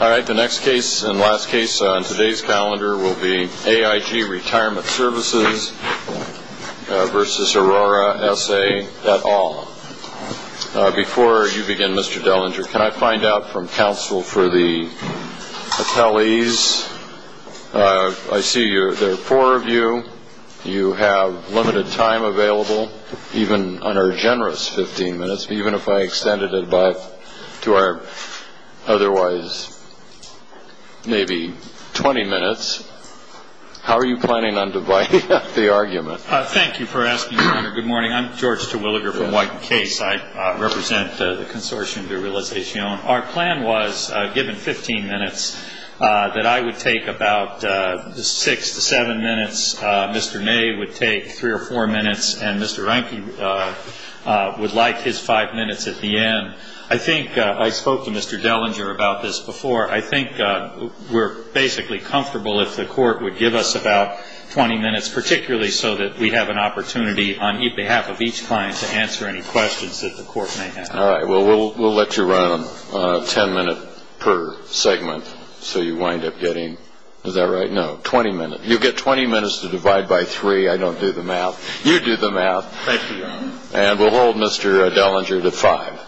All right, the next case and last case on today's calendar will be AIG Retirement Svcs v. Aurora S. A. et al. Before you begin, Mr. Dellinger, can I find out from counsel for the appellees? I see there are four of you. You have limited time available, even under generous 15 minutes. But even if I extended it back to our otherwise maybe 20 minutes, how are you planning on dividing up the argument? Thank you for asking, Your Honor. Good morning. I'm George Terwilliger, but in what case I represent the Consortium de Realizacion. Our plan was, given 15 minutes, that I would take about six to seven minutes, Mr. Ney would take three or four minutes, and Mr. Reinke would like his five minutes at the end. I think I spoke to Mr. Dellinger about this before. I think we're basically comfortable if the Court would give us about 20 minutes, particularly so that we have an opportunity on behalf of each client to answer any questions that the Court may have. All right. Well, we'll let you run 10 minutes per segment so you wind up getting, is that right? No, 20 minutes. You get 20 minutes to divide by three. I don't do the math. You do the math. Thank you, Your Honor. And we'll hold Mr. Dellinger to five.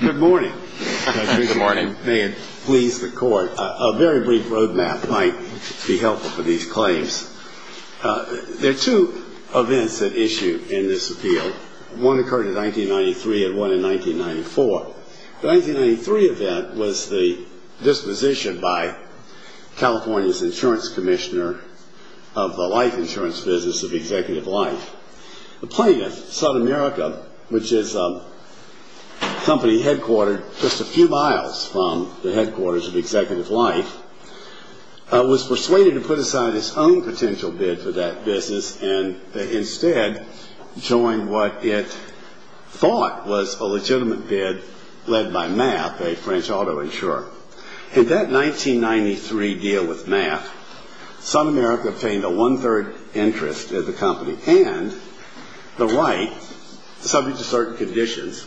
Good morning. Good morning. May it please the Court, a very brief road map might be helpful for these claims. There are two events at issue in this appeal. One occurred in 1993 and one in 1994. The 1993 event was the disposition by California's insurance commissioner of the life insurance business of Executive Life. The plaintiff, Sudamerica, which is a company headquartered just a few miles from the headquarters of Executive Life, was persuaded to put aside his own potential bid for that business and instead joined what it thought was a legitimate bid led by MAF, a French auto insurer. In that 1993 deal with MAF, Sudamerica obtained a one-third interest in the company and the right, subject to certain conditions,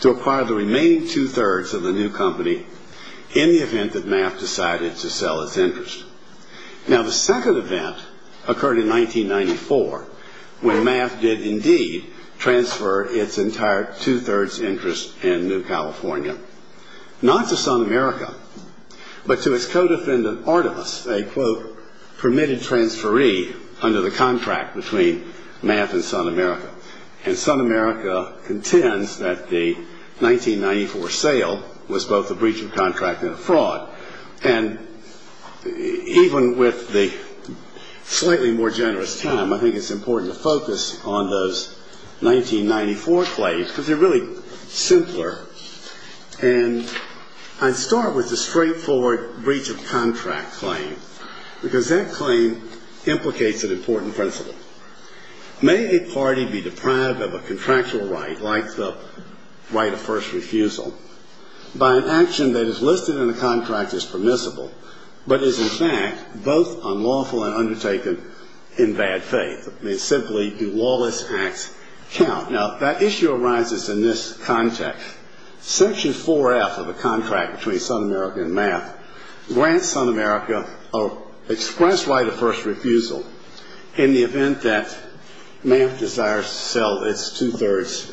to acquire the remaining two-thirds of the new company in the event that MAF decided to sell its interest. Now, the second event occurred in 1994 when MAF did indeed transfer its entire two-thirds interest in New California, not to Sudamerica but to its co-defendant, Artemis, a, quote, permitted transferee under the contract between MAF and Sudamerica. And Sudamerica contends that the 1994 sale was both a breach of contract and a fraud. And even with the slightly more generous time, I think it's important to focus on those 1994 claims because they're really simpler. And I'd start with the straightforward breach of contract claim because that claim implicates an important principle. May a party be deprived of a contractual right, like the right of first refusal, by an action that is listed in the contract as permissible but is, in fact, both unlawful and undertaken in bad faith? I mean, simply, do lawless acts count? Now, that issue arises in this context. Section 4F of the contract between Sudamerica and MAF grants Sudamerica an express right of first refusal in the event that MAF desires to sell its two-thirds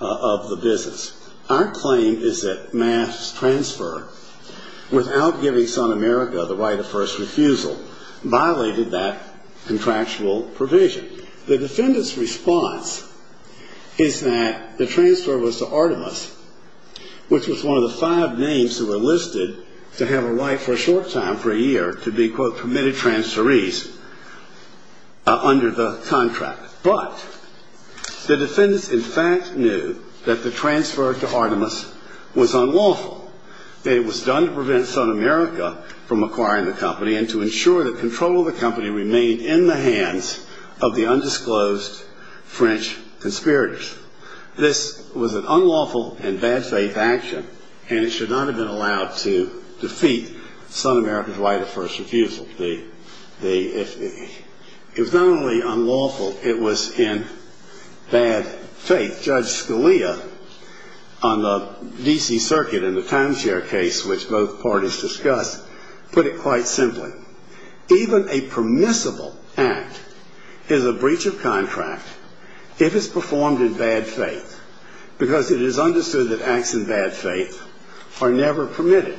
of the business. Our claim is that MAF's transfer, without giving Sudamerica the right of first refusal, violated that contractual provision. The defendant's response is that the transfer was to Artemis, which was one of the five names that were listed to have a right for a short time, for a year, to be, quote, permitted transferees under the contract. But the defendants, in fact, knew that the transfer to Artemis was unlawful, that it was done to prevent Sudamerica from acquiring the company and to ensure that control of the company remained in the hands of the undisclosed French conspirators. This was an unlawful and bad-faith action, and it should not have been allowed to defeat Sudamerica's right of first refusal. It was not only unlawful, it was in bad faith. Judge Scalia, on the D.C. Circuit in the timeshare case, which both parties discussed, put it quite simply. Even a permissible act is a breach of contract if it's performed in bad faith, because it is understood that acts in bad faith are never permitted.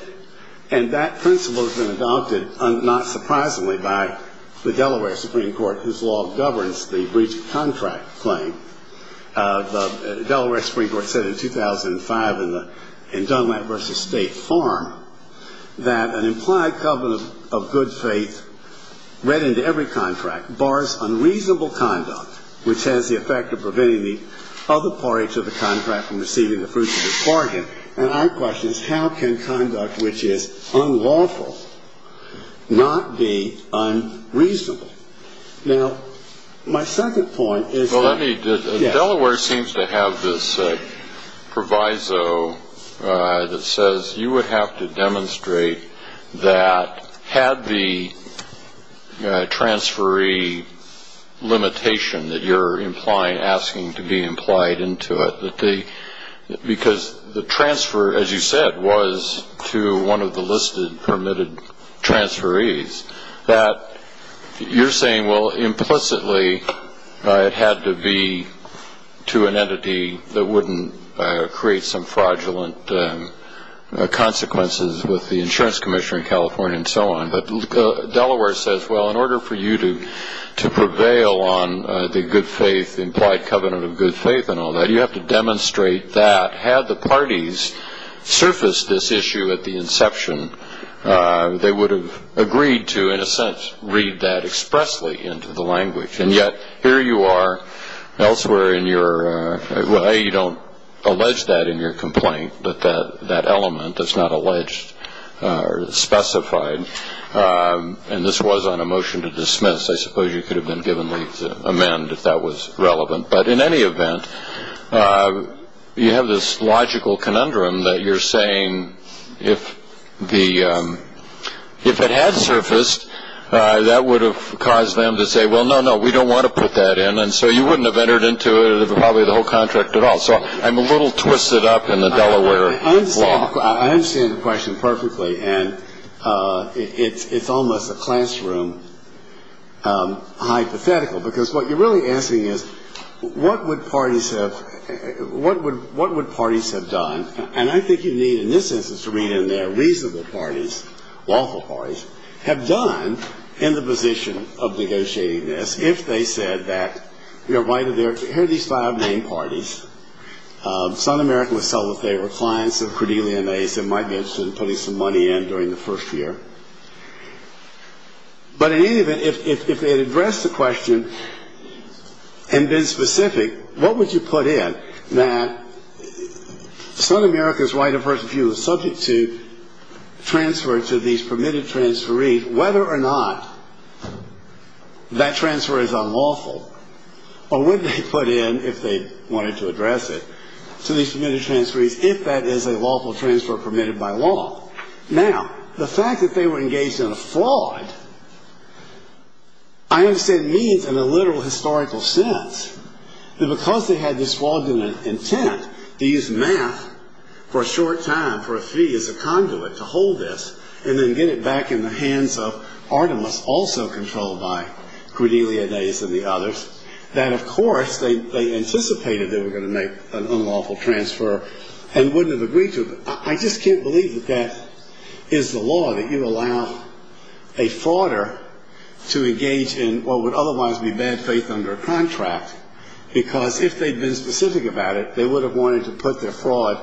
And that principle has been adopted, not surprisingly, by the Delaware Supreme Court, whose law governs the breach of contract claim. The Delaware Supreme Court said in 2005 in Dunlap v. State Farm that an implied covenant of good faith read into every contract bars unreasonable conduct, which has the effect of preventing the other parties of the contract from receiving the fruits of this bargain. And our question is, how can conduct which is unlawful not be unreasonable? Now, my second point is that— that had the transferee limitation that you're asking to be implied into it, because the transfer, as you said, was to one of the listed permitted transferees, that you're saying, well, implicitly it had to be to an entity that wouldn't create some fraudulent consequences with the insurance commissioner in California and so on. But Delaware says, well, in order for you to prevail on the good faith, implied covenant of good faith and all that, you have to demonstrate that. Had the parties surfaced this issue at the inception, they would have agreed to, in a sense, read that expressly into the language. And yet, here you are elsewhere in your—well, you don't allege that in your complaint, but that element that's not alleged or specified, and this was on a motion to dismiss. I suppose you could have been given leave to amend if that was relevant. But in any event, you have this logical conundrum that you're saying, if it had surfaced, that would have caused them to say, well, no, no, we don't want to put that in, and so you wouldn't have entered into probably the whole contract at all. So I'm a little twisted up in the Delaware law. I understand the question perfectly, and it's almost a classroom hypothetical, because what you're really asking is, what would parties have done? And I think you need, in this instance, to read in there, reasonable parties, lawful parties, have done in the position of negotiating this if they said that, you know, here are these five main parties. South America would sell the favor, clients of Cordelia and Ace, they might be interested in putting some money in during the first year. But in any event, if they had addressed the question and been specific, what would you put in that South America's right of first view is subject to transfer to these permitted transferees, whether or not that transfer is unlawful, or would they put in, if they wanted to address it, to these permitted transferees, if that is a lawful transfer permitted by law? Now, the fact that they were engaged in a fraud, I understand, means in a literal historical sense that because they had this fraudulent intent to use math for a short time for a fee as a conduit to hold this, and then get it back in the hands of Artemis, also controlled by Cordelia, Ace, and the others, that, of course, they anticipated they were going to make an unlawful transfer and wouldn't have agreed to it. I just can't believe that that is the law, that you allow a frauder to engage in what would otherwise be bad faith under a contract, because if they'd been specific about it, they would have wanted to put their fraud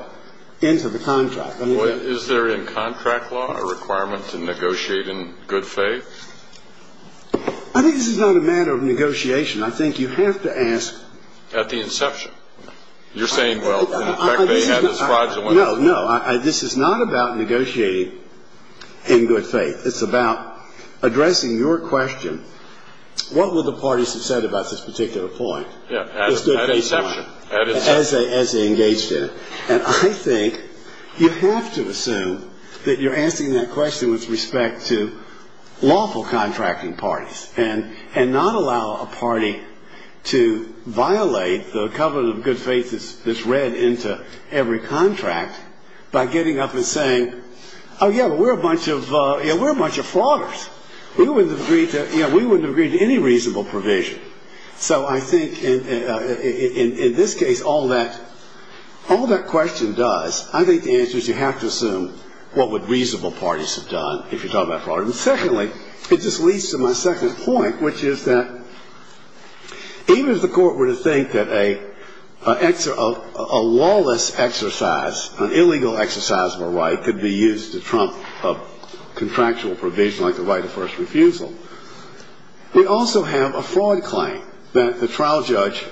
into the contract. Is there in contract law a requirement to negotiate in good faith? I think this is not a matter of negotiation. I think you have to ask at the inception. You're saying, well, in fact, they had this fraudulent intent. No, no. This is not about negotiating in good faith. It's about addressing your question, what would the parties have said about this particular point? Yeah, at inception. As they engaged in it. And I think you have to assume that you're asking that question with respect to lawful contracting parties and not allow a party to violate the covenant of good faith that's read into every contract by getting up and saying, oh, yeah, but we're a bunch of frauders. We wouldn't have agreed to any reasonable provision. So I think in this case, all that question does, I think the answer is you have to assume what would reasonable parties have done if you're talking about fraud. And secondly, it just leads to my second point, which is that even if the court were to think that a lawless exercise, an illegal exercise of a right could be used to trump a contractual provision like the right of first refusal, we also have a fraud claim that the trial judge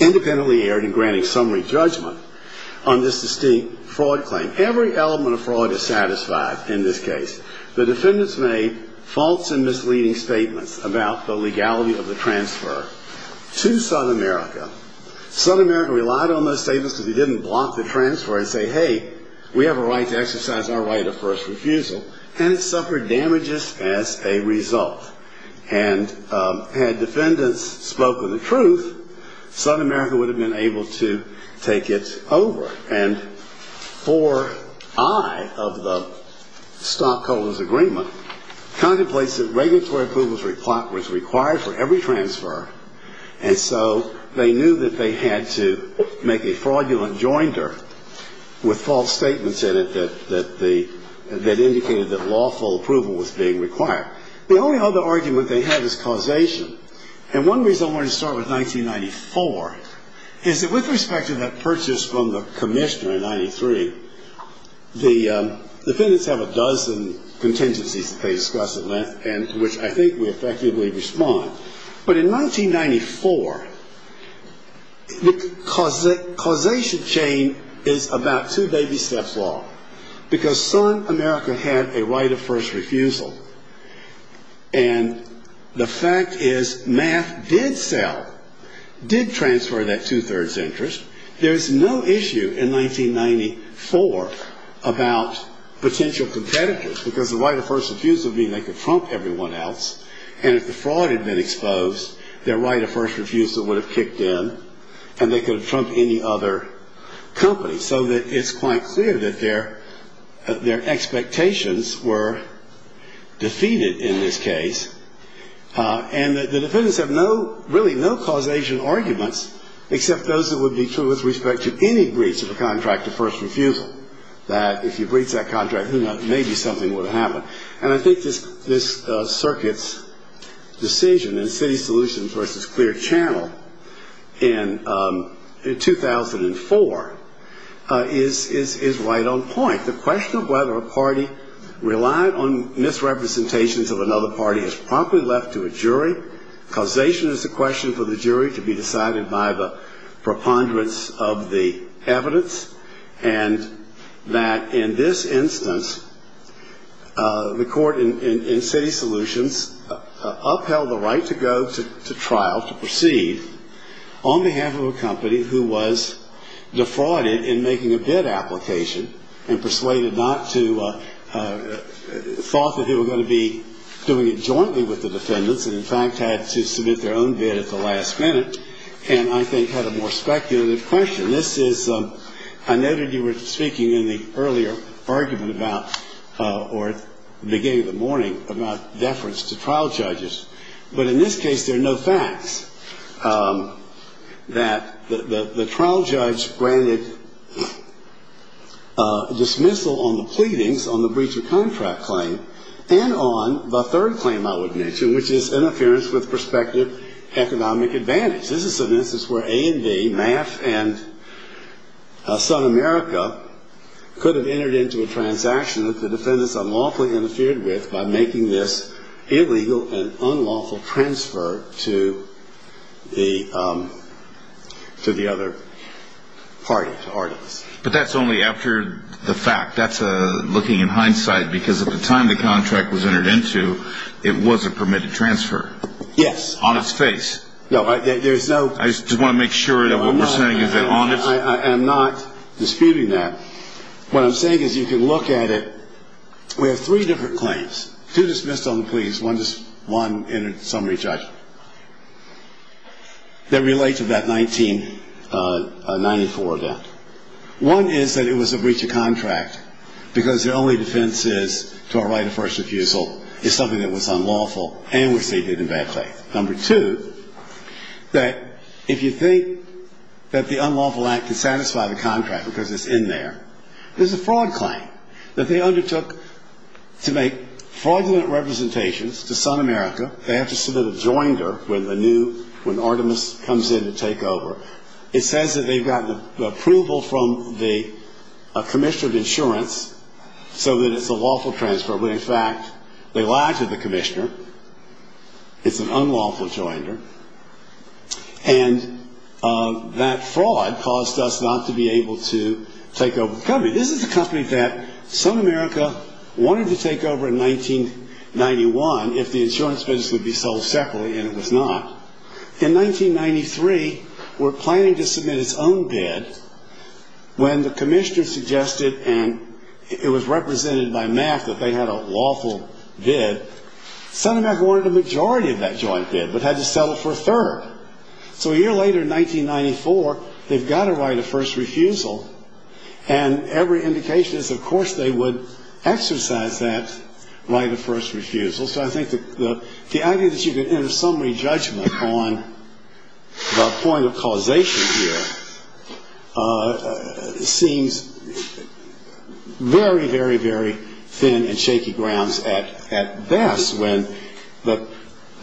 independently erred in granting summary judgment on this distinct fraud claim. Every element of fraud is satisfied in this case. The defendants made false and misleading statements about the legality of the transfer to South America. South America relied on those statements because they didn't block the transfer and say, hey, we have a right to exercise our right of first refusal. And it suffered damages as a result. And had defendants spoken the truth, South America would have been able to take it over. And 4I of the stockholders' agreement contemplates that regulatory approvals were required for every transfer, and so they knew that they had to make a fraudulent joinder with false statements in it that indicated that lawful approval was being required. The only other argument they had was causation. And one reason I wanted to start with 1994 is that with respect to that purchase from the commissioner in 93, the defendants have a dozen contingencies that they discuss, which I think we effectively respond. But in 1994, the causation chain is about two baby steps long because South America had a right of first refusal. And the fact is math did sell, did transfer that two-thirds interest. There's no issue in 1994 about potential competitors because the right of first refusal means they could trump everyone else. And if the fraud had been exposed, their right of first refusal would have kicked in, and they could have trumped any other company. So it's quite clear that their expectations were defeated in this case. And the defendants have really no causation arguments except those that would be true with respect to any breach of a contract of first refusal, that if you breached that contract, who knows, maybe something would have happened. And I think this circuit's decision in City Solutions versus Clear Channel in 2004 is right on point. The question of whether a party relied on misrepresentations of another party is promptly left to a jury. Causation is a question for the jury to be decided by the preponderance of the evidence. And that in this instance, the court in City Solutions upheld the right to go to trial, to proceed, on behalf of a company who was defrauded in making a bid application and persuaded not to, thought that they were going to be doing it jointly with the defendants and in fact had to submit their own bid at the last minute and I think had a more speculative question. This is, I noted you were speaking in the earlier argument about, or at the beginning of the morning, about deference to trial judges. But in this case, there are no facts that the trial judge granted dismissal on the pleadings on the breach of contract claim and on the third claim I would mention, which is interference with prospective economic advantage. This is an instance where A and B, MAF and South America, could have entered into a transaction that the defendants unlawfully interfered with by making this illegal and unlawful transfer to the other party, to Artemis. But that's only after the fact. That's looking in hindsight because at the time the contract was entered into, it was a permitted transfer. Yes. On its face. No, there's no I just want to make sure that what we're saying is honest. I'm not disputing that. What I'm saying is you can look at it. We have three different claims, two dismissed on the pleadings, one in a summary judgment, that relate to that 1994 event. One is that it was a breach of contract because their only defense is to our right of first refusal is something that was unlawful and was stated in bad faith. Number two, that if you think that the unlawful act can satisfy the contract because it's in there, there's a fraud claim that they undertook to make fraudulent representations to South America. They have to submit a joinder when the new, when Artemis comes in to take over. It says that they've gotten approval from the commissioner of insurance so that it's a lawful transfer. In fact, they lied to the commissioner. It's an unlawful joinder. And that fraud caused us not to be able to take over the company. This is a company that South America wanted to take over in 1991 if the insurance business would be sold separately, and it was not. In 1993, we're planning to submit its own bid when the commissioner suggested, and it was represented by MAF that they had a lawful bid. South America wanted a majority of that joint bid but had to settle for a third. So a year later in 1994, they've got a right of first refusal, and every indication is, of course, they would exercise that right of first refusal. So I think the idea that you could enter summary judgment on the point of causation here seems very, very, very thin and shaky grounds at best when the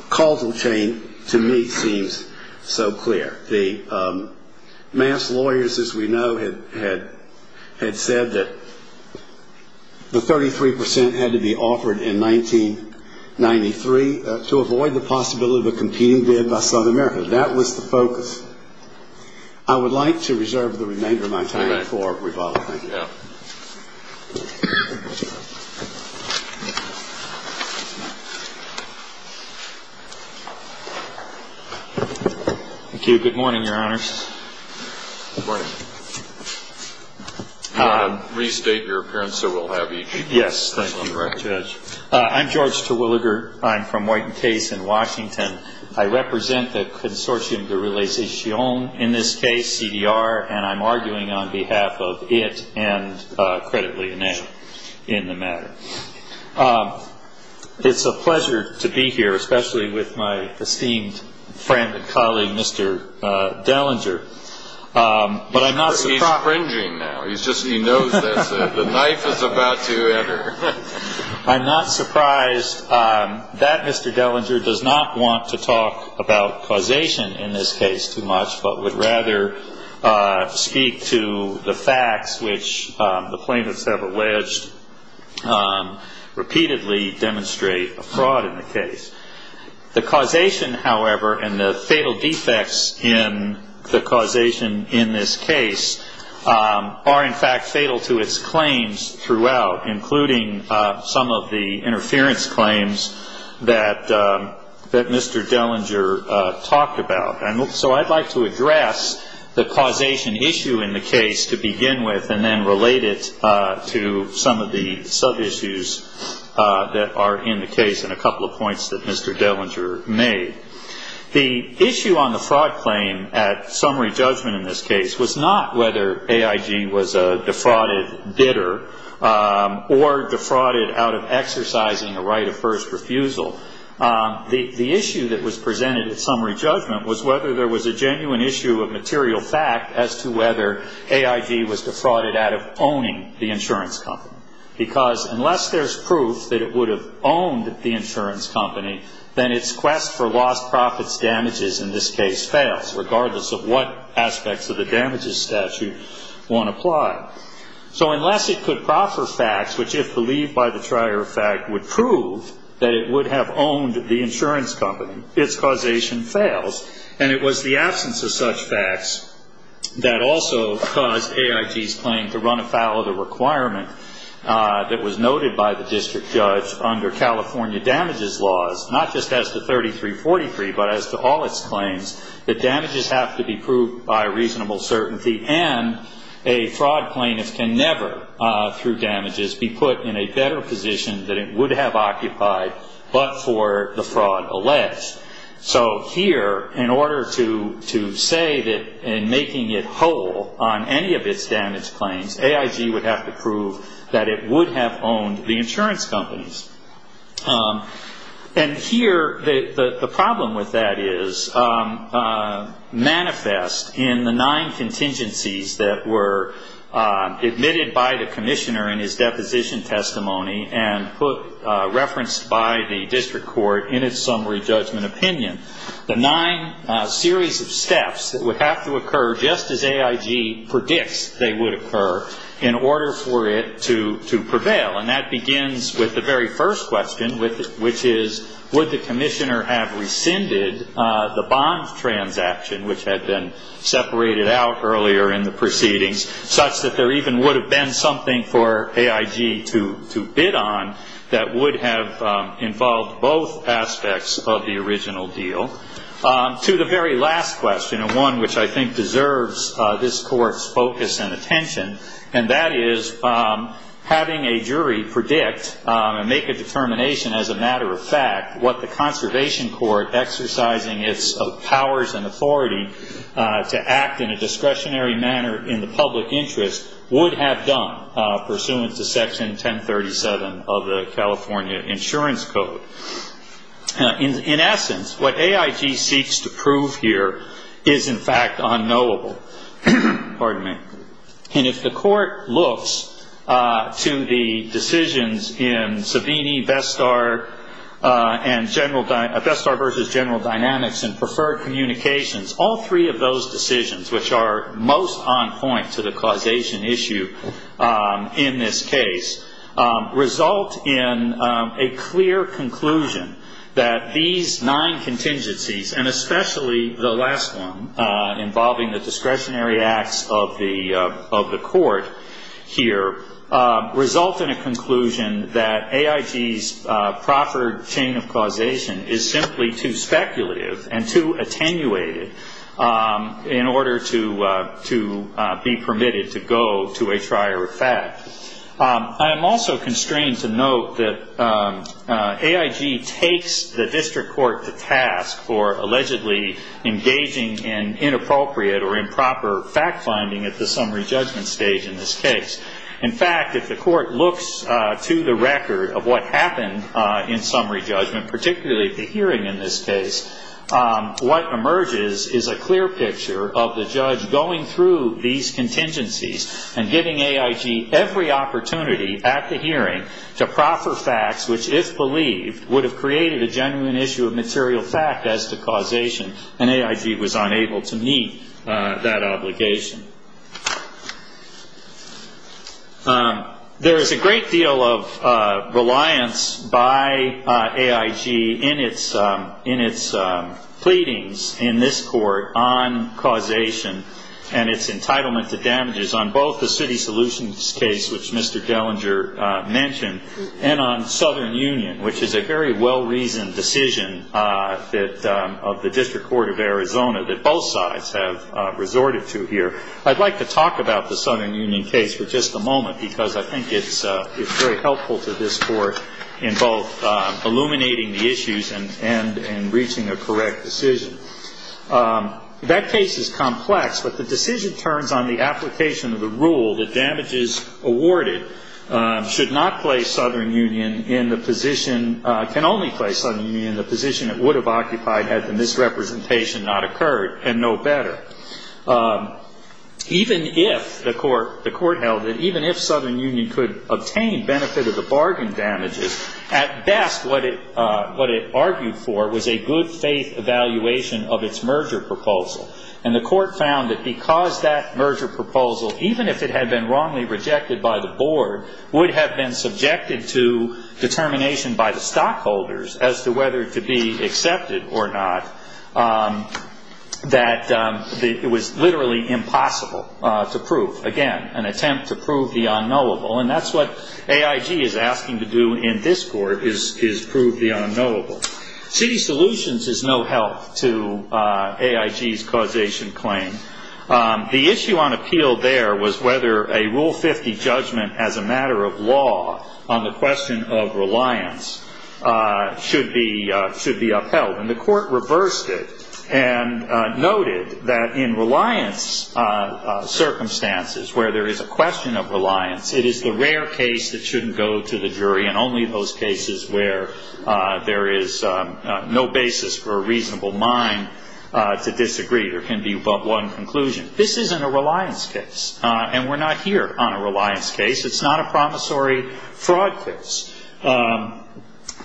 causal chain, to me, seems so clear. The MAF's lawyers, as we know, had said that the 33 percent had to be offered in 1993 to avoid the possibility of a competing bid by South America. That was the focus. I would like to reserve the remainder of my time for rebuttal. Thank you. Thank you. Good morning, Your Honors. Good morning. Restate your appearance so we'll have each. Yes, thank you, Your Honor. I'm George Terwilliger. I'm from Wharton Case in Washington. I represent the Consortium de Relation, in this case CDR, and I'm arguing on behalf of it and credibly in the matter. It's a pleasure to be here, especially with my esteemed friend and colleague, Mr. Dellinger. But I'm not surprised. He's cringing now. He knows that the knife is about to enter. I'm not surprised. That, Mr. Dellinger, does not want to talk about causation in this case too much, but would rather speak to the facts which the plaintiffs have alleged repeatedly demonstrate a fraud in the case. The causation, however, and the fatal defects in the causation in this case are, in fact, fatal to its claims throughout, including some of the interference claims that Mr. Dellinger talked about. So I'd like to address the causation issue in the case to begin with and then relate it to some of the sub-issues that are in the case and a couple of points that Mr. Dellinger made. The issue on the fraud claim at summary judgment in this case was not whether AIG was a defrauded bidder or defrauded out of exercising a right of first refusal. The issue that was presented at summary judgment was whether there was a genuine issue of material fact as to whether AIG was defrauded out of owning the insurance company, because unless there's proof that it would have owned the insurance company, then its quest for lost profits damages in this case fails, regardless of what aspects of the damages statute want to apply. So unless it could proffer facts which, if believed by the trier of fact, would prove that it would have owned the insurance company, its causation fails. And it was the absence of such facts that also caused AIG's claim to run afoul of the requirement that was noted by the district judge under California damages laws, not just as to 3343, but as to all its claims that damages have to be proved by reasonable certainty and a fraud plaintiff can never, through damages, be put in a better position than it would have occupied but for the fraud alleged. So here, in order to say that in making it whole on any of its damage claims, AIG would have to prove that it would have owned the insurance companies. And here, the problem with that is manifest in the nine contingencies that were admitted by the commissioner in his deposition testimony and referenced by the district court in its summary judgment opinion. The nine series of steps that would have to occur just as AIG predicts they would occur in order for it to prevail, and that begins with the very first question, which is would the commissioner have rescinded the bond transaction, which had been separated out earlier in the proceedings, such that there even would have been something for AIG to bid on that would have involved both aspects of the original deal, to the very last question, and one which I think deserves this Court's focus and attention, and that is having a jury predict and make a determination as a matter of fact what the Conservation Court, exercising its powers and authority to act in a discretionary manner in the public interest, would have done pursuant to Section 1037 of the California Insurance Code. In essence, what AIG seeks to prove here is in fact unknowable. And if the Court looks to the decisions in Savini, Vestar, and Vestar versus General Dynamics and Preferred Communications, all three of those decisions, which are most on point to the causation issue in this case, result in a clear conclusion that these nine contingencies, and especially the last one involving the discretionary acts of the Court here, result in a conclusion that AIG's proffered chain of causation is simply too speculative and too attenuated in order to be permitted to go to a trier of fact. I am also constrained to note that AIG takes the district court to task for allegedly engaging in inappropriate or improper fact-finding at the summary judgment stage in this case. In fact, if the Court looks to the record of what happened in summary judgment, particularly the hearing in this case, what emerges is a clear picture of the judge going through these contingencies and giving AIG every opportunity at the hearing to proffer facts which, if believed, would have created a genuine issue of material fact as to causation, and AIG was unable to meet that obligation. There is a great deal of reliance by AIG in its pleadings in this court on causation and its entitlement to damages on both the city solutions case, which Mr. Dellinger mentioned, and on Southern Union, which is a very well-reasoned decision of the District Court of Arizona that both sides have resorted to here. I'd like to talk about the Southern Union case for just a moment because I think it's very helpful to this Court in both illuminating the issues and in reaching a correct decision. That case is complex, but the decision turns on the application of the rule that damages awarded should not place Southern Union in the position, can only place Southern Union in the position it would have occupied had the misrepresentation not occurred, and no better. Even if the Court held that even if Southern Union could obtain benefit of the bargain damages, at best what it argued for was a good-faith evaluation of its merger proposal, and the Court found that because that merger proposal, would have been subjected to determination by the stockholders as to whether to be accepted or not, that it was literally impossible to prove. Again, an attempt to prove the unknowable, and that's what AIG is asking to do in this Court is prove the unknowable. City solutions is no help to AIG's causation claim. The issue on appeal there was whether a Rule 50 judgment as a matter of law on the question of reliance should be upheld, and the Court reversed it and noted that in reliance circumstances, where there is a question of reliance, it is the rare case that shouldn't go to the jury, and only those cases where there is no basis for a reasonable mind to disagree there can be but one conclusion. This isn't a reliance case, and we're not here on a reliance case. It's not a promissory fraud case.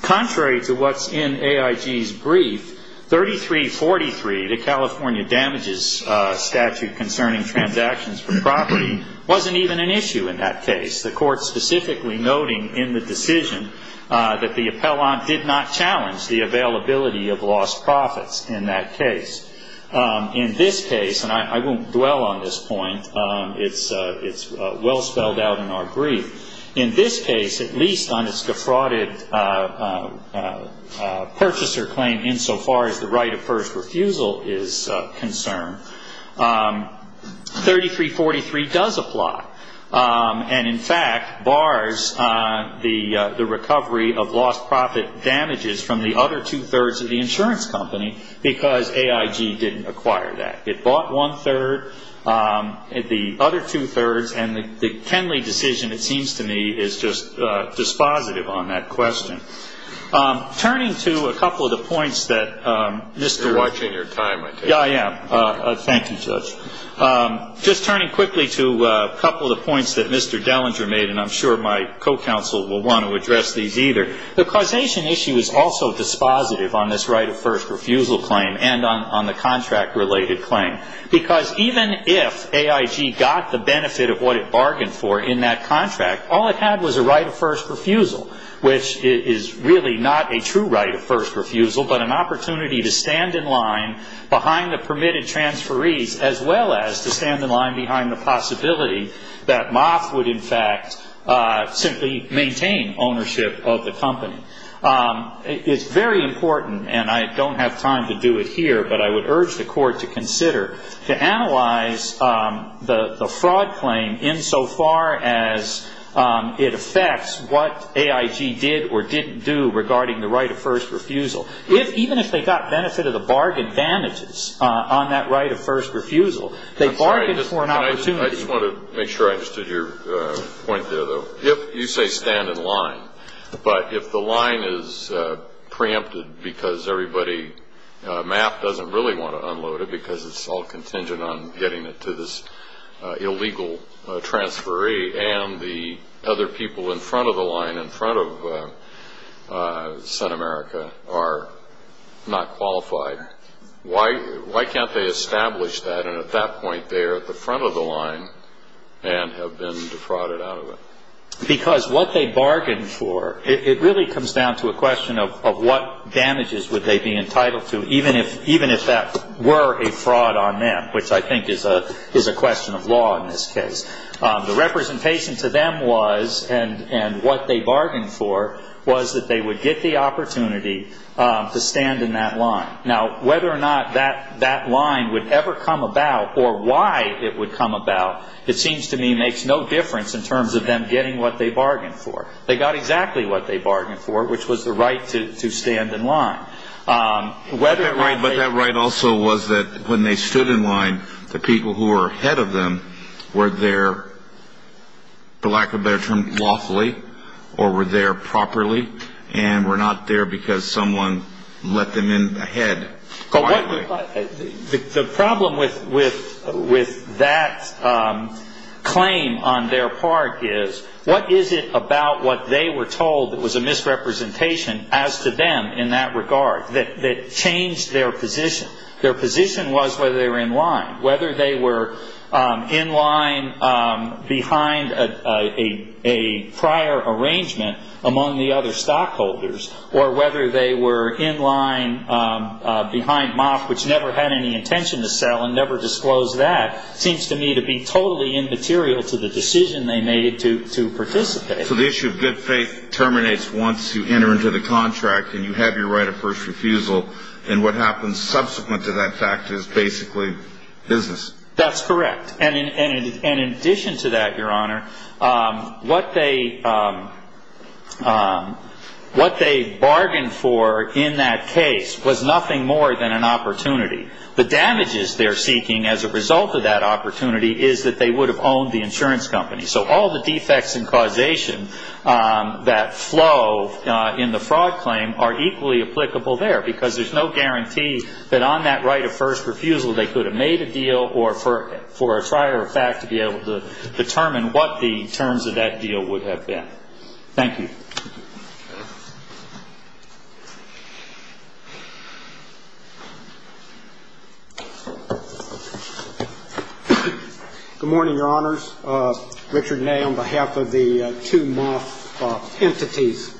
Contrary to what's in AIG's brief, 3343, the California damages statute concerning transactions for property, wasn't even an issue in that case, the Court specifically noting in the decision that the appellant did not challenge the availability of lost profits in that case. In this case, and I won't dwell on this point. It's well spelled out in our brief. In this case, at least on its defrauded purchaser claim, insofar as the right of first refusal is concerned, 3343 does apply, and in fact bars the recovery of lost profit damages from the other two-thirds of the insurance company because AIG didn't acquire that. It bought one-third, the other two-thirds, and the Kenley decision, it seems to me, is just dispositive on that question. Turning to a couple of the points that Mr. You're watching your time, I take it. Yeah, I am. Thank you, Judge. Just turning quickly to a couple of the points that Mr. Dellinger made, and I'm sure my co-counsel will want to address these either. The causation issue is also dispositive on this right of first refusal claim and on the contract-related claim, because even if AIG got the benefit of what it bargained for in that contract, all it had was a right of first refusal, which is really not a true right of first refusal, but an opportunity to stand in line behind the permitted transferees, as well as to stand in line behind the possibility that Moth would, in fact, simply maintain ownership of the company. It's very important, and I don't have time to do it here, but I would urge the Court to consider, to analyze the fraud claim insofar as it affects what AIG did or didn't do regarding the right of first refusal. Even if they got benefit of the bargain advantages on that right of first refusal, they bargained for an opportunity. I just want to make sure I understood your point there, though. You say stand in line, but if the line is preempted because everybody, Mapp doesn't really want to unload it because it's all contingent on getting it to this illegal transferee and the other people in front of the line, in front of Sun America, are not qualified, why can't they establish that and at that point they are at the front of the line and have been defrauded out of it? Because what they bargained for, it really comes down to a question of what damages would they be entitled to, even if that were a fraud on them, which I think is a question of law in this case. The representation to them was, and what they bargained for, was that they would get the opportunity to stand in that line. Now, whether or not that line would ever come about or why it would come about, it seems to me makes no difference in terms of them getting what they bargained for. They got exactly what they bargained for, which was the right to stand in line. But that right also was that when they stood in line, the people who were ahead of them were there, for lack of a better term, lawfully or were there properly and were not there because someone let them in ahead. The problem with that claim on their part is what is it about what they were told that was a misrepresentation as to them in that regard that changed their position? Their position was whether they were in line. Whether they were in line behind a prior arrangement among the other stockholders or whether they were in line behind MOF, which never had any intention to sell and never disclosed that, seems to me to be totally immaterial to the decision they made to participate. So the issue of good faith terminates once you enter into the contract and you have your right of first refusal. And what happens subsequent to that fact is basically business. That's correct. And in addition to that, Your Honor, what they bargained for in that case was nothing more than an opportunity. The damages they're seeking as a result of that opportunity is that they would have owned the insurance company. So all the defects and causation that flow in the fraud claim are equally applicable there because there's no guarantee that on that right of first refusal they could have made a deal or for a prior fact to be able to determine what the terms of that deal would have been. Thank you. Good morning, Your Honors. Richard Nay on behalf of the two MOF entities.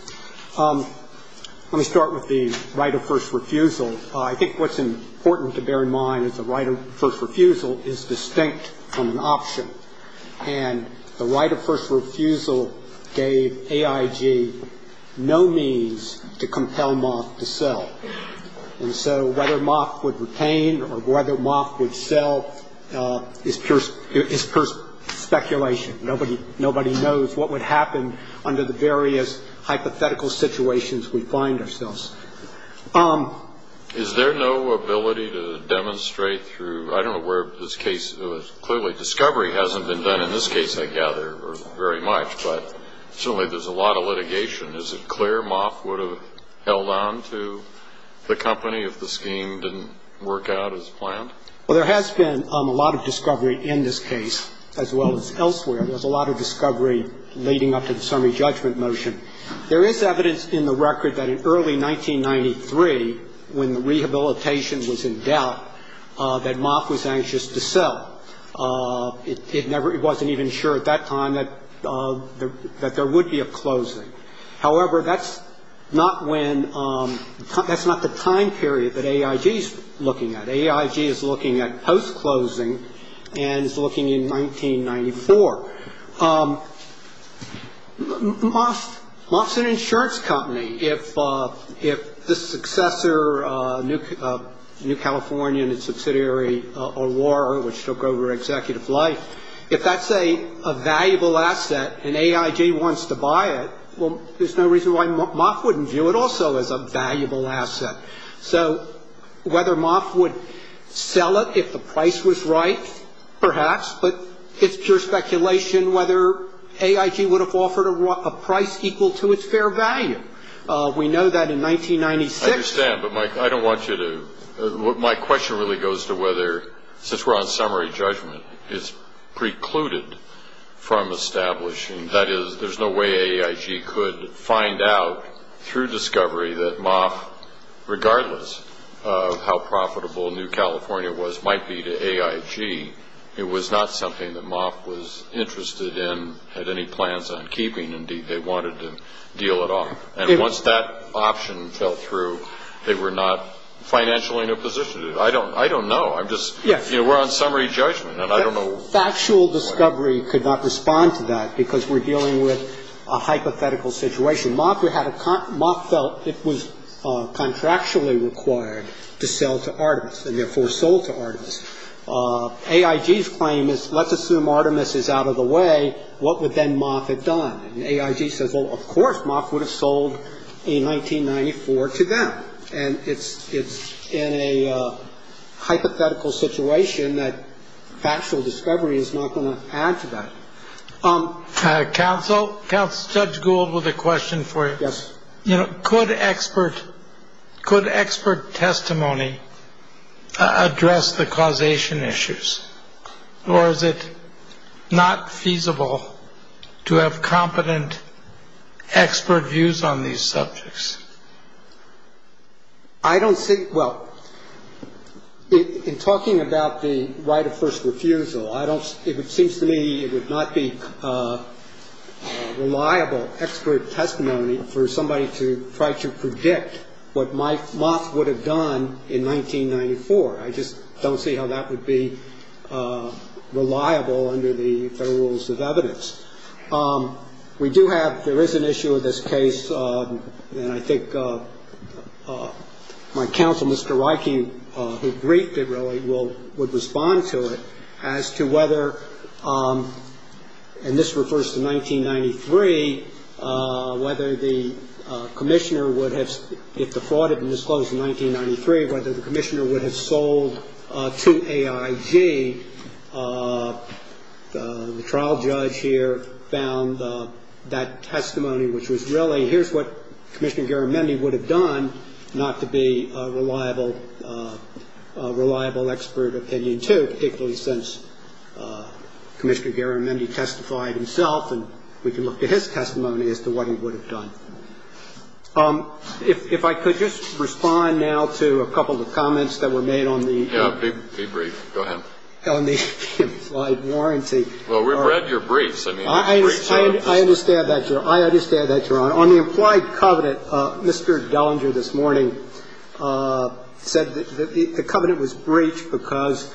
Let me start with the right of first refusal. I think what's important to bear in mind is the right of first refusal is distinct from an option. And the right of first refusal gave AIG no means to compel MOF to sell. And so whether MOF would retain or whether MOF would sell is pure speculation. Nobody knows what would happen under the various hypothetical situations we find ourselves. Is there no ability to demonstrate through, I don't know where this case, clearly discovery hasn't been done in this case, I gather, very much, but certainly there's a lot of litigation. Is it clear MOF would have held on to the company if the scheme didn't work out as planned? Well, there has been a lot of discovery in this case as well as elsewhere. There's a lot of discovery leading up to the summary judgment motion. There is evidence in the record that in early 1993, when the rehabilitation was in doubt, that MOF was anxious to sell. It wasn't even sure at that time that there would be a closing. However, that's not when, that's not the time period that AIG is looking at. AIG is looking at post-closing and is looking in 1994. MOF is an insurance company. If the successor, New California and its subsidiary Aurora, which took over executive life, if that's a valuable asset and AIG wants to buy it, well, there's no reason why MOF wouldn't view it also as a valuable asset. So whether MOF would sell it if the price was right, perhaps, but it's pure speculation whether AIG would have offered a price equal to its fair value. We know that in 1996. I understand, but I don't want you to. My question really goes to whether, since we're on summary judgment, it's precluded from establishing, that is, there's no way AIG could find out through discovery that MOF, regardless of how profitable New California was, might be to AIG. It was not something that MOF was interested in, had any plans on keeping. Indeed, they wanted to deal it off. And once that option fell through, they were not financially in a position to do it. I don't know. I'm just, you know, we're on summary judgment, and I don't know. Well, factual discovery could not respond to that, because we're dealing with a hypothetical situation. MOF felt it was contractually required to sell to Artemis, and therefore sold to Artemis. AIG's claim is, let's assume Artemis is out of the way, what would then MOF have done? And AIG says, well, of course, MOF would have sold in 1994 to them. And it's in a hypothetical situation that factual discovery is not going to add to that. Counsel, Judge Gould with a question for you. Yes. You know, could expert testimony address the causation issues, or is it not feasible to have competent expert views on these subjects? I don't think – well, in talking about the right of first refusal, it seems to me it would not be reliable expert testimony for somebody to try to predict what MOF would have done in 1994. I just don't see how that would be reliable under the Federal Rules of Evidence. We do have – there is an issue of this case, and I think my counsel, Mr. Reich, who briefed it really, would respond to it as to whether – and this refers to 1993 – whether the commissioner would have – if the fraud had been disclosed in 1993, whether the commissioner would have sold to AIG. The trial judge here found that testimony, which was really, here's what Commissioner Garamendi would have done, not to be a reliable expert opinion, too, particularly since Commissioner Garamendi testified himself, and we can look to his testimony as to what he would have done. If I could just respond now to a couple of the comments that were made on the – Yeah. Be brief. Go ahead. On the implied warranty. Well, we've read your briefs. I mean, the briefs are – I understand that, Your Honor. I understand that, Your Honor. On the implied covenant, Mr. Dellinger this morning said that the covenant was breached because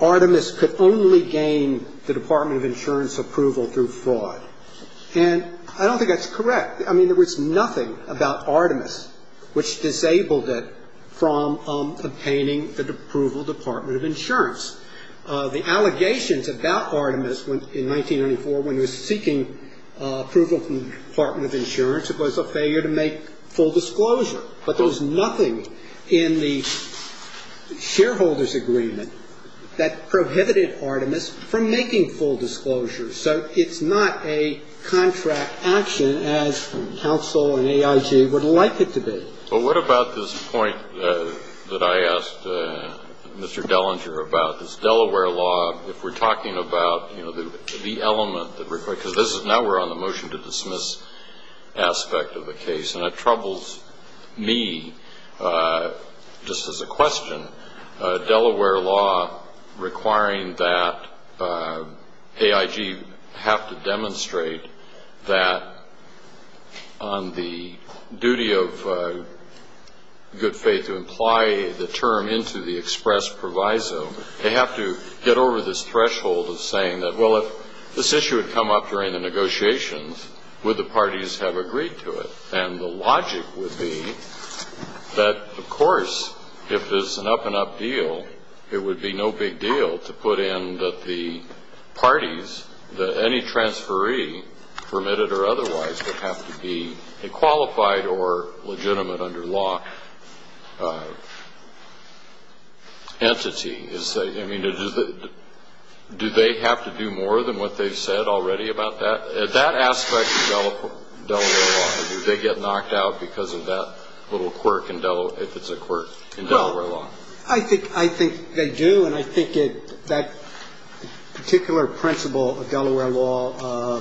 Artemis could only gain the Department of Insurance approval through fraud. And I don't think that's correct. I mean, there was nothing about Artemis which disabled it from obtaining the approval of the Department of Insurance. The allegations about Artemis in 1994 when he was seeking approval from the Department of Insurance, it was a failure to make full disclosure. But there was nothing in the shareholders' agreement that prohibited Artemis from making full disclosure. So it's not a contract action as counsel and AIG would like it to be. But what about this point that I asked Mr. Dellinger about? This Delaware law, if we're talking about, you know, the element that – because this is – now we're on the motion to dismiss aspect of the case. And it troubles me, just as a question, Delaware law requiring that AIG have to demonstrate that on the duty of good faith to imply the term into the express proviso, they have to get over this threshold of saying that, well, if this issue had come up during the negotiations, would the parties have agreed to it? And the logic would be that, of course, if it's an up-and-up deal, it would be no big deal to put in that the parties, that any transferee, permitted or otherwise, would have to be a qualified or legitimate under law entity. I mean, do they have to do more than what they've said already about that? At that aspect of Delaware law, do they get knocked out because of that little quirk in Delaware – if it's a quirk in Delaware law? Well, I think they do. And I think that particular principle of Delaware law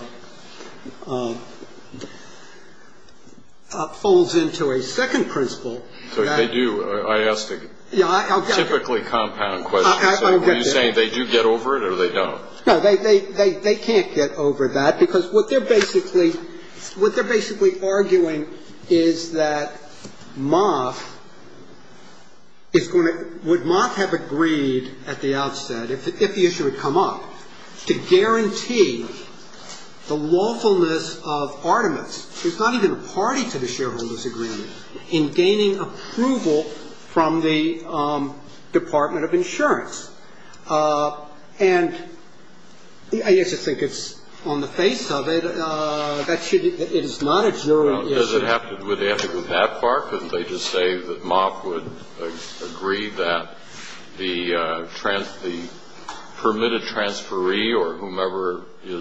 falls into a second principle. So they do. I asked a typically compound question. So are you saying they do get over it or they don't? No, they can't get over that, because what they're basically arguing is that Moth is going to – would Moth have agreed at the outset, if the issue had come up, to guarantee the lawfulness of Artemis, who's not even a party to the shareholders' agreement, in gaining approval from the Department of Insurance. And I guess I think it's on the face of it that it is not a jury issue. Well, does it have to – would they have to go that far? Couldn't they just say that Moth would agree that the permitted transferee or whomever it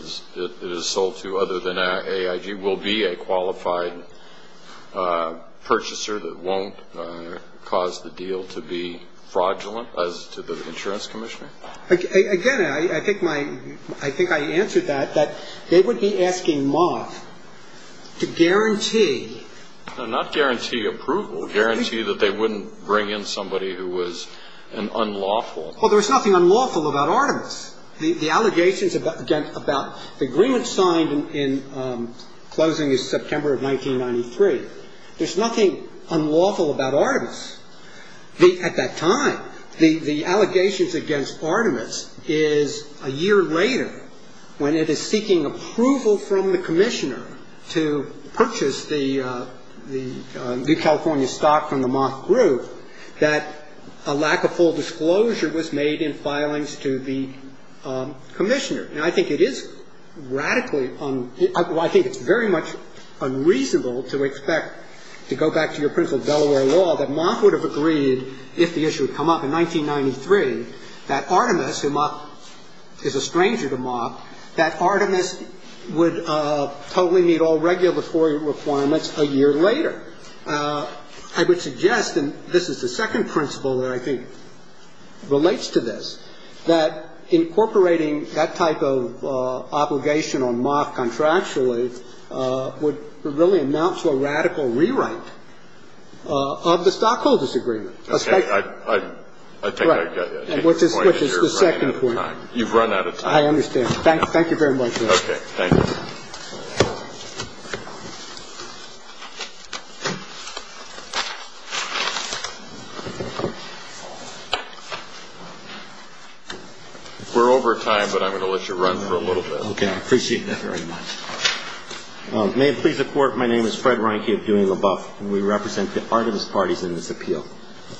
is sold to other than AIG will be a qualified purchaser that won't cause the deal to be fraudulent, as to the insurance commissioner? Again, I think my – I think I answered that, that they would be asking Moth to guarantee – No, not guarantee approval. Guarantee that they wouldn't bring in somebody who was an unlawful – Well, there's nothing unlawful about Artemis. The allegations against – about the agreement signed in – closing in September of 1993. There's nothing unlawful about Artemis. At that time, the allegations against Artemis is a year later, when it is seeking approval from the commissioner to purchase the California stock from the Moth Group, that a lack of full disclosure was made in filings to the commissioner. And I think it is radically – I think it's very much unreasonable to expect, to go back to your principle of Delaware law, that Moth would have agreed if the issue had come up in 1993 that Artemis, who Moth is a stranger to Moth, that Artemis would totally meet all regulatory requirements a year later. I would suggest, and this is the second principle that I think relates to this, that incorporating that type of obligation on Moth contractually would really amount to a radical rewrite of the stockholders' agreement. Okay. I think I get it. Right. Which is the second point. You've run out of time. I understand. Thank you very much, Judge. Okay. Thank you. We're over time, but I'm going to let you run for a little bit. Okay. I appreciate that very much. May it please the Court, my name is Fred Reinke of Doing the Buff, and we represent the Artemis parties in this appeal.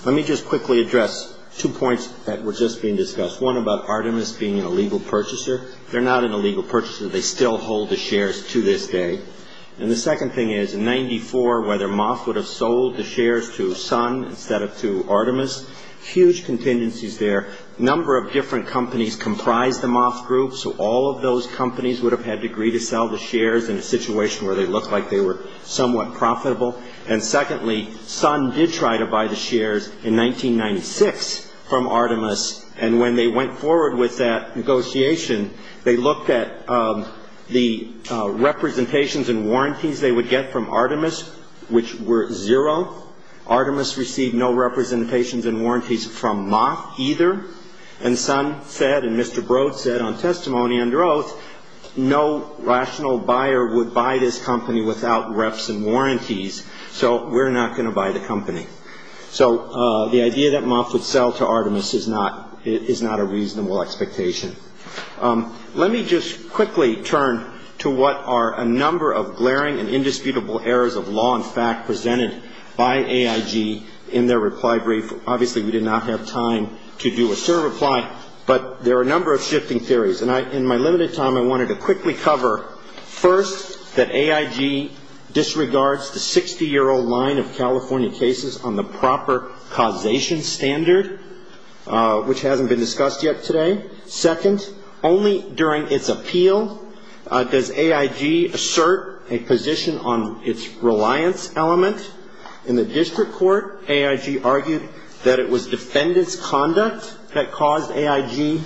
Let me just quickly address two points that were just being discussed, one about Artemis being an illegal purchaser. They still hold the Moth Group. And the second thing is, in 1994, whether Moth would have sold the shares to Sun instead of to Artemis, huge contingencies there. A number of different companies comprised the Moth Group, so all of those companies would have had to agree to sell the shares in a situation where they looked like they were somewhat profitable. And secondly, Sun did try to buy the shares in 1996 from Artemis, and when they went forward with that negotiation, they looked at the representations and warranties they would get from Artemis, which were zero. Artemis received no representations and warranties from Moth either. And Sun said, and Mr. Broad said on testimony under oath, no rational buyer would buy this company without reps and warranties, so we're not going to buy the company. So the idea that Moth would sell to Artemis is not a reasonable expectation. Let me just quickly turn to what are a number of glaring and indisputable errors of law and fact presented by AIG in their reply brief. Obviously, we did not have time to do a certain reply, but there are a number of shifting theories. And in my limited time, I wanted to quickly cover, first, that AIG disregards the 60-year-old line of California cases on the proper causation standard, which hasn't been discussed yet today. Second, only during its appeal does AIG assert a position on its reliance element. In the district court, AIG argued that it was defendants' conduct that caused AIG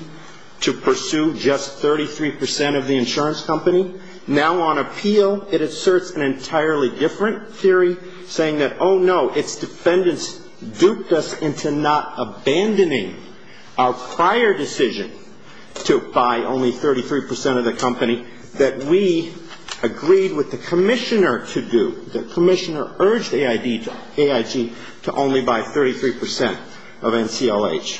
to pursue just 33 percent of the insurance company. Now on appeal, it asserts an entirely different theory, saying that, oh, no, its defendants duped us into not abandoning our prior decision to buy only 33 percent of the company that we agreed with the commissioner to do. The commissioner urged AIG to only buy 33 percent of NCLH.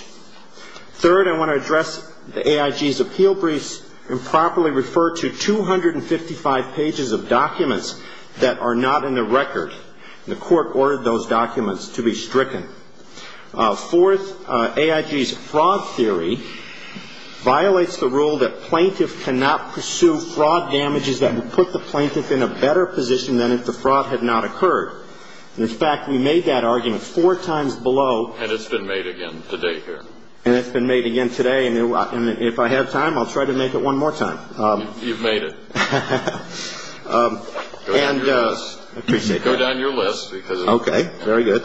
Third, I want to address AIG's appeal briefs and properly refer to 255 pages of documents that are not in the record. The court ordered those documents to be stricken. Fourth, AIG's fraud theory violates the rule that plaintiffs cannot pursue fraud damages that would put the plaintiff in a better position than if the fraud had not occurred. In fact, we made that argument four times below. And it's been made again today here. And it's been made again today. And if I have time, I'll try to make it one more time. You've made it. Go down your list. Appreciate that. Go down your list. Okay. Very good.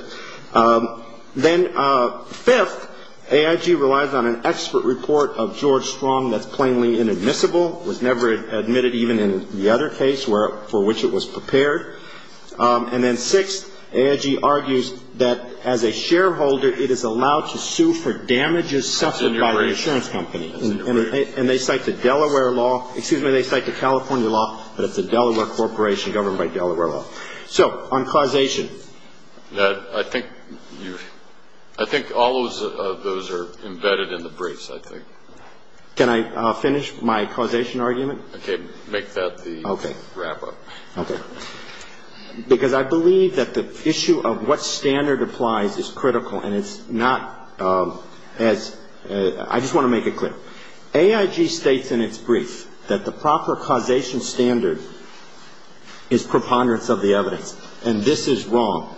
Then fifth, AIG relies on an expert report of George Strong that's plainly inadmissible, was never admitted even in the other case for which it was prepared. And then sixth, AIG argues that as a shareholder, it is allowed to sue for damages suffered by the insurance company. And they cite the Delaware law. Excuse me. They cite the California law. But it's a Delaware corporation governed by Delaware law. So on causation. I think all of those are embedded in the briefs, I think. Can I finish my causation argument? Okay. Make that the wrap-up. Okay. Because I believe that the issue of what standard applies is critical. And it's not as ‑‑ I just want to make it clear. AIG states in its brief that the proper causation standard is preponderance of the evidence. And this is wrong.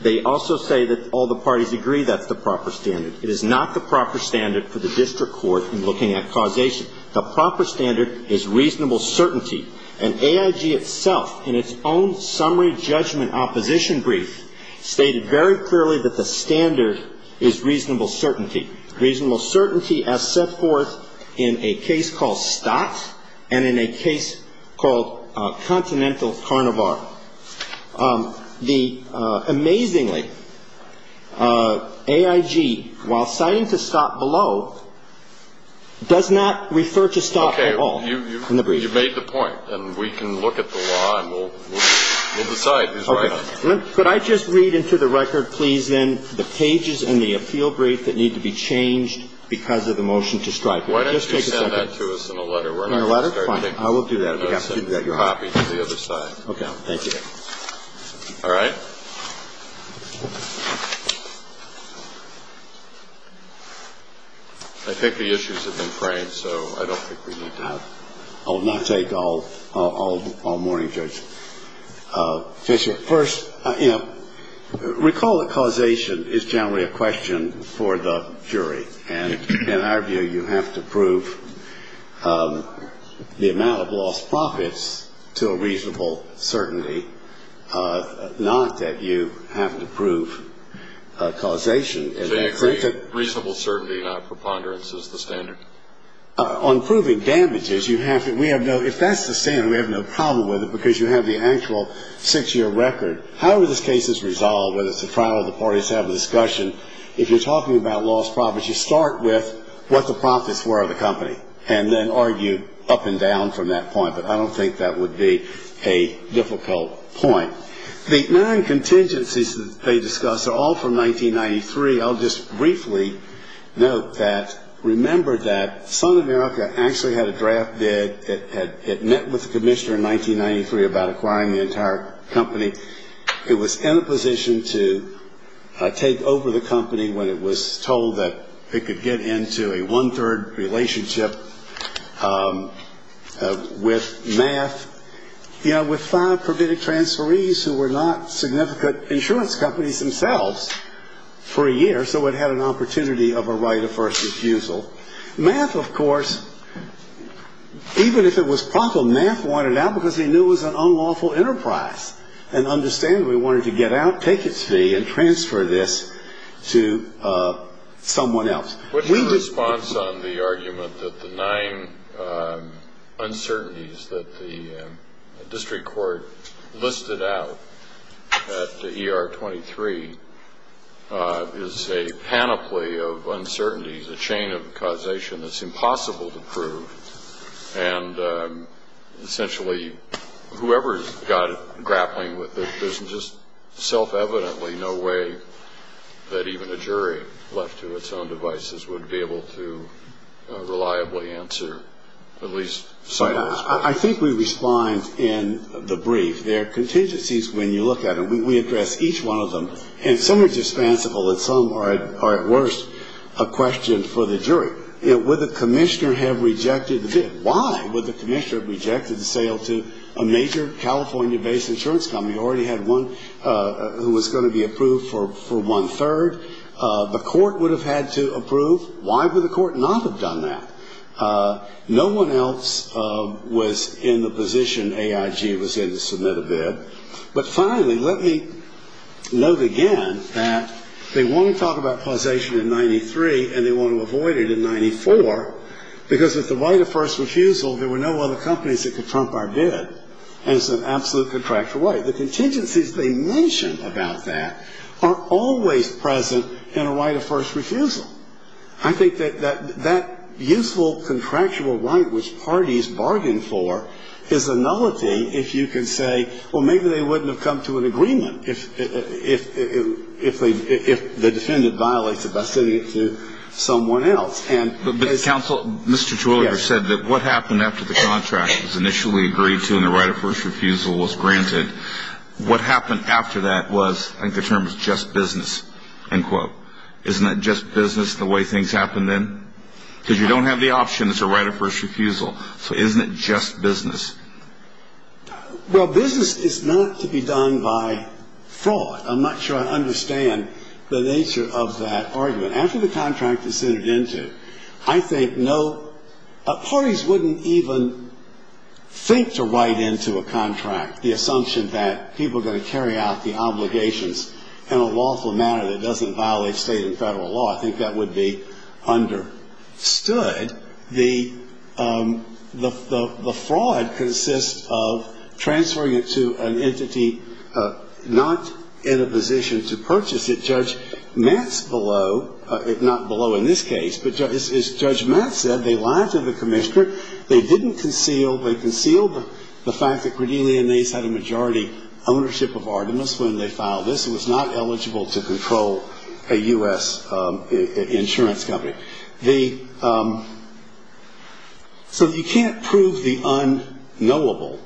They also say that all the parties agree that's the proper standard. It is not the proper standard for the district court in looking at causation. The proper standard is reasonable certainty. And AIG itself, in its own summary judgment opposition brief, stated very clearly that the standard is reasonable certainty. Reasonable certainty as set forth in a case called Stott and in a case called Continental Carnivore. The amazingly, AIG, while citing to Stott below, does not refer to Stott at all in the brief. I think you made the point. And we can look at the law and we'll decide who's right. Could I just read into the record, please, then, the pages in the appeal brief that need to be changed because of the motion to strike? Just take a second. Why don't you send that to us in a letter? In a letter? Fine. I will do that. Copy it to the other side. Okay. Thank you. All right. I think the issues have been framed, so I don't think we need to have ‑‑ I'll not take all morning, Judge. First, you know, recall that causation is generally a question for the jury. And in our view, you have to prove the amount of lost profits to a reasonable certainty, not that you have to prove causation. Reasonable certainty, not preponderance, is the standard? On proving damages, we have no ‑‑ if that's the standard, we have no problem with it because you have the actual six‑year record. However this case is resolved, whether it's a trial or the parties have a discussion, if you're talking about lost profits, you start with what the profits were of the company and then argue up and down from that point. But I don't think that would be a difficult point. The nine contingencies that they discuss are all from 1993. I'll just briefly note that remember that Sun America actually had a draft bid. It met with the commissioner in 1993 about acquiring the entire company. It was in a position to take over the company when it was told that it could get into a one‑third relationship with MAF. With five permitted transferees who were not significant insurance companies themselves for a year, so it had an opportunity of a right of first refusal, MAF, of course, even if it was prompted, MAF wanted out because they knew it was an unlawful enterprise and understandably wanted to get out, take its fee, and transfer this to someone else. What's your response on the argument that the nine uncertainties that the district court listed out at ER 23 is a panoply of uncertainties, a chain of causation that's impossible to prove, and essentially whoever's got it grappling with it, there's just self‑evidently no way that even a jury left to its own devices would be able to reliably answer at least some of those questions. I think we respond in the brief. There are contingencies when you look at them. We address each one of them, and some are dispensable, and some are, at worst, a question for the jury. Would the commissioner have rejected the bid? Why would the commissioner have rejected the sale to a major California‑based insurance company when we already had one who was going to be approved for one‑third? The court would have had to approve. Why would the court not have done that? No one else was in the position AIG was in to submit a bid. But finally, let me note again that they want to talk about causation in 93, and they want to avoid it in 94 because with the right of first refusal, there were no other companies that could trump our bid, and it's an absolute contractual right. The contingencies they mention about that are always present in a right of first refusal. I think that that useful contractual right which parties bargain for is a nullity if you can say, well, maybe they wouldn't have come to an agreement if the defendant violates it by sending it to someone else. But, counsel, Mr. Twilliger said that what happened after the contract was initially agreed to and the right of first refusal was granted, what happened after that was, I think the term is just business, end quote. Isn't that just business the way things happened then? Because you don't have the option, it's a right of first refusal. So isn't it just business? Well, business is not to be done by fraud. I'm not sure I understand the nature of that argument. After the contract is entered into, I think parties wouldn't even think to write into a contract the assumption that people are going to carry out the obligations in a lawful manner that doesn't violate state and federal law. I think that would be understood. The fraud consists of transferring it to an entity not in a position to purchase it. Judge Matz below, not below in this case, but as Judge Matz said, they lied to the commissioner. They didn't conceal. They concealed the fact that Cordelia Nace had a majority ownership of Artemis when they filed this and was not eligible to control a U.S. insurance company. So you can't prove the unknowable.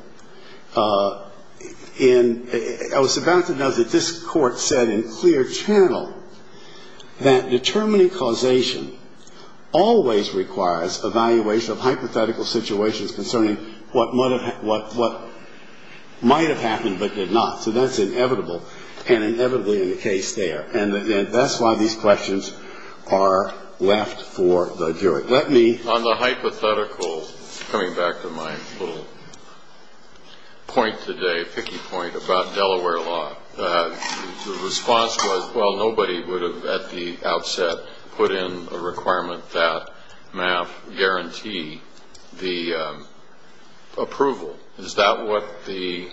And I was about to note that this court said in clear channel that determining causation always requires evaluation of hypothetical situations concerning what might have happened but did not. So that's inevitable and inevitably in the case there. And that's why these questions are left for the jury. On the hypothetical, coming back to my little point today, picky point about Delaware law, the response was, well, nobody would have at the outset put in a requirement that MAF guarantee the approval. Is that what the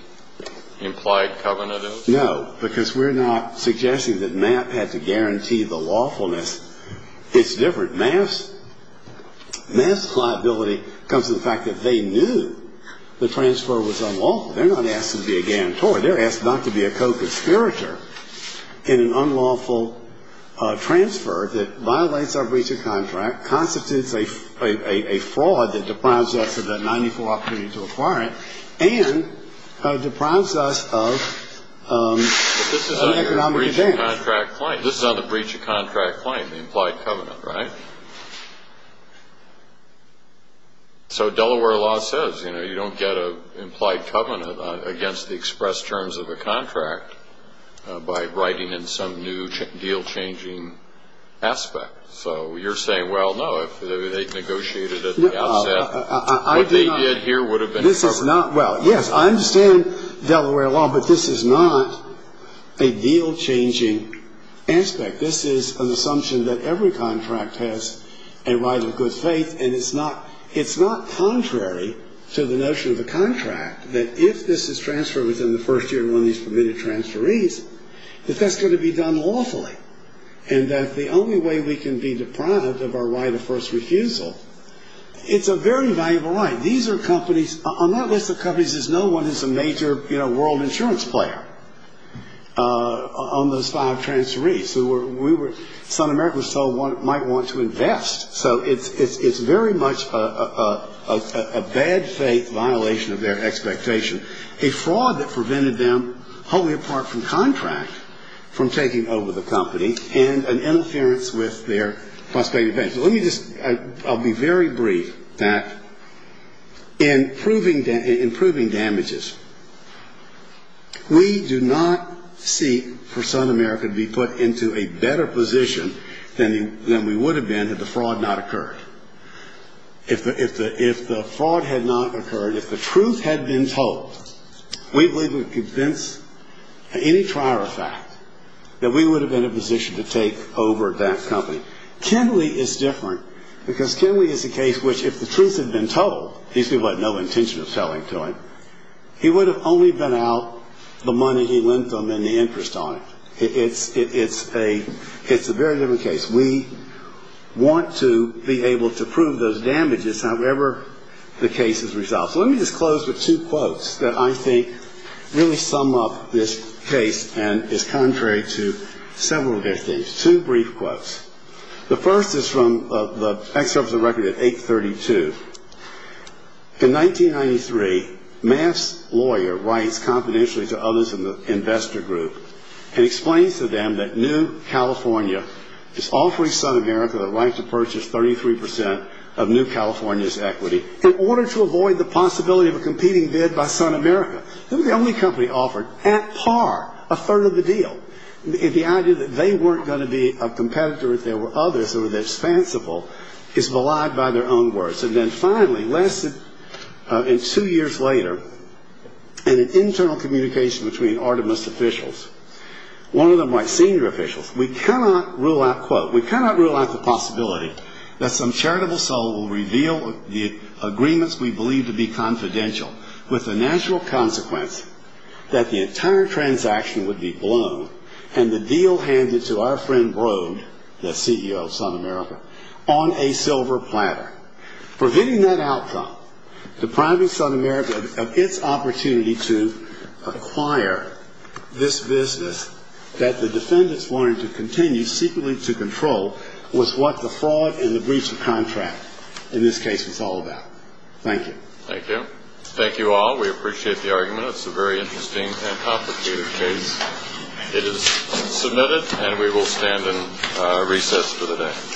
implied covenant is? No, because we're not suggesting that MAF had to guarantee the lawfulness. It's different. MAF's liability comes from the fact that they knew the transfer was unlawful. They're not asking to be a guarantor. They're asking not to be a co-conspirator in an unlawful transfer that violates our breach of contract, constitutes a fraud that deprives us of that 94 opportunity to acquire it, and deprives us of economic advantage. This is on the breach of contract claim, the implied covenant, right? So Delaware law says, you know, you don't get an implied covenant against the express terms of a contract by writing in some new deal-changing aspect. So you're saying, well, no, if they'd negotiated at the outset, what they did here would have been acceptable. No, it's not. Well, yes, I understand Delaware law, but this is not a deal-changing aspect. This is an assumption that every contract has a right of good faith, and it's not contrary to the notion of the contract that if this is transferred within the first year of one of these permitted transferees, that that's going to be done lawfully, and that the only way we can be deprived of our right of first refusal, it's a very valuable right. These are companies, on that list of companies, there's no one who's a major, you know, world insurance player on those five transferees. So we were, South America was told might want to invest. So it's very much a bad faith violation of their expectation, a fraud that prevented them, wholly apart from contract, from taking over the company, and an interference with their prospective benefits. I'll be very brief, Pat. In proving damages, we do not seek for South America to be put into a better position than we would have been had the fraud not occurred. If the fraud had not occurred, if the truth had been told, we believe we would convince any trier of fact that we would have been in a position to take over that company. Kenley is different, because Kenley is a case which, if the truth had been told, these people had no intention of telling to him, he would have only been out the money he lent them and the interest on it. It's a very different case. We want to be able to prove those damages, however the case is resolved. So let me just close with two quotes that I think really sum up this case and is contrary to several of their things, two brief quotes. The first is from the excerpt of the record at 832. In 1993, Maff's lawyer writes confidentially to others in the investor group and explains to them that New California is offering South America the right to purchase 33 percent of New California's equity in order to avoid the possibility of a competing bid by South America. They were the only company offered, at par, a third of the deal. The idea that they weren't going to be a competitor if there were others and were dispensable is maligned by their own words. And then finally, less than two years later, in an internal communication between Artemus officials, one of them white senior officials, we cannot rule out, quote, we cannot rule out the possibility that some charitable soul will reveal the agreements we believe to be confidential with the natural consequence that the entire transaction would be blown and the deal handed to our friend Broad, the CEO of South America, on a silver platter. Preventing that outcome depriving South America of its opportunity to acquire this business that the defendants wanted to continue secretly to control was what the fraud and the breach of contract in this case was all about. Thank you. Thank you. Thank you all. We appreciate the argument. It's a very interesting and complicated case. It is submitted and we will stand in recess for the day.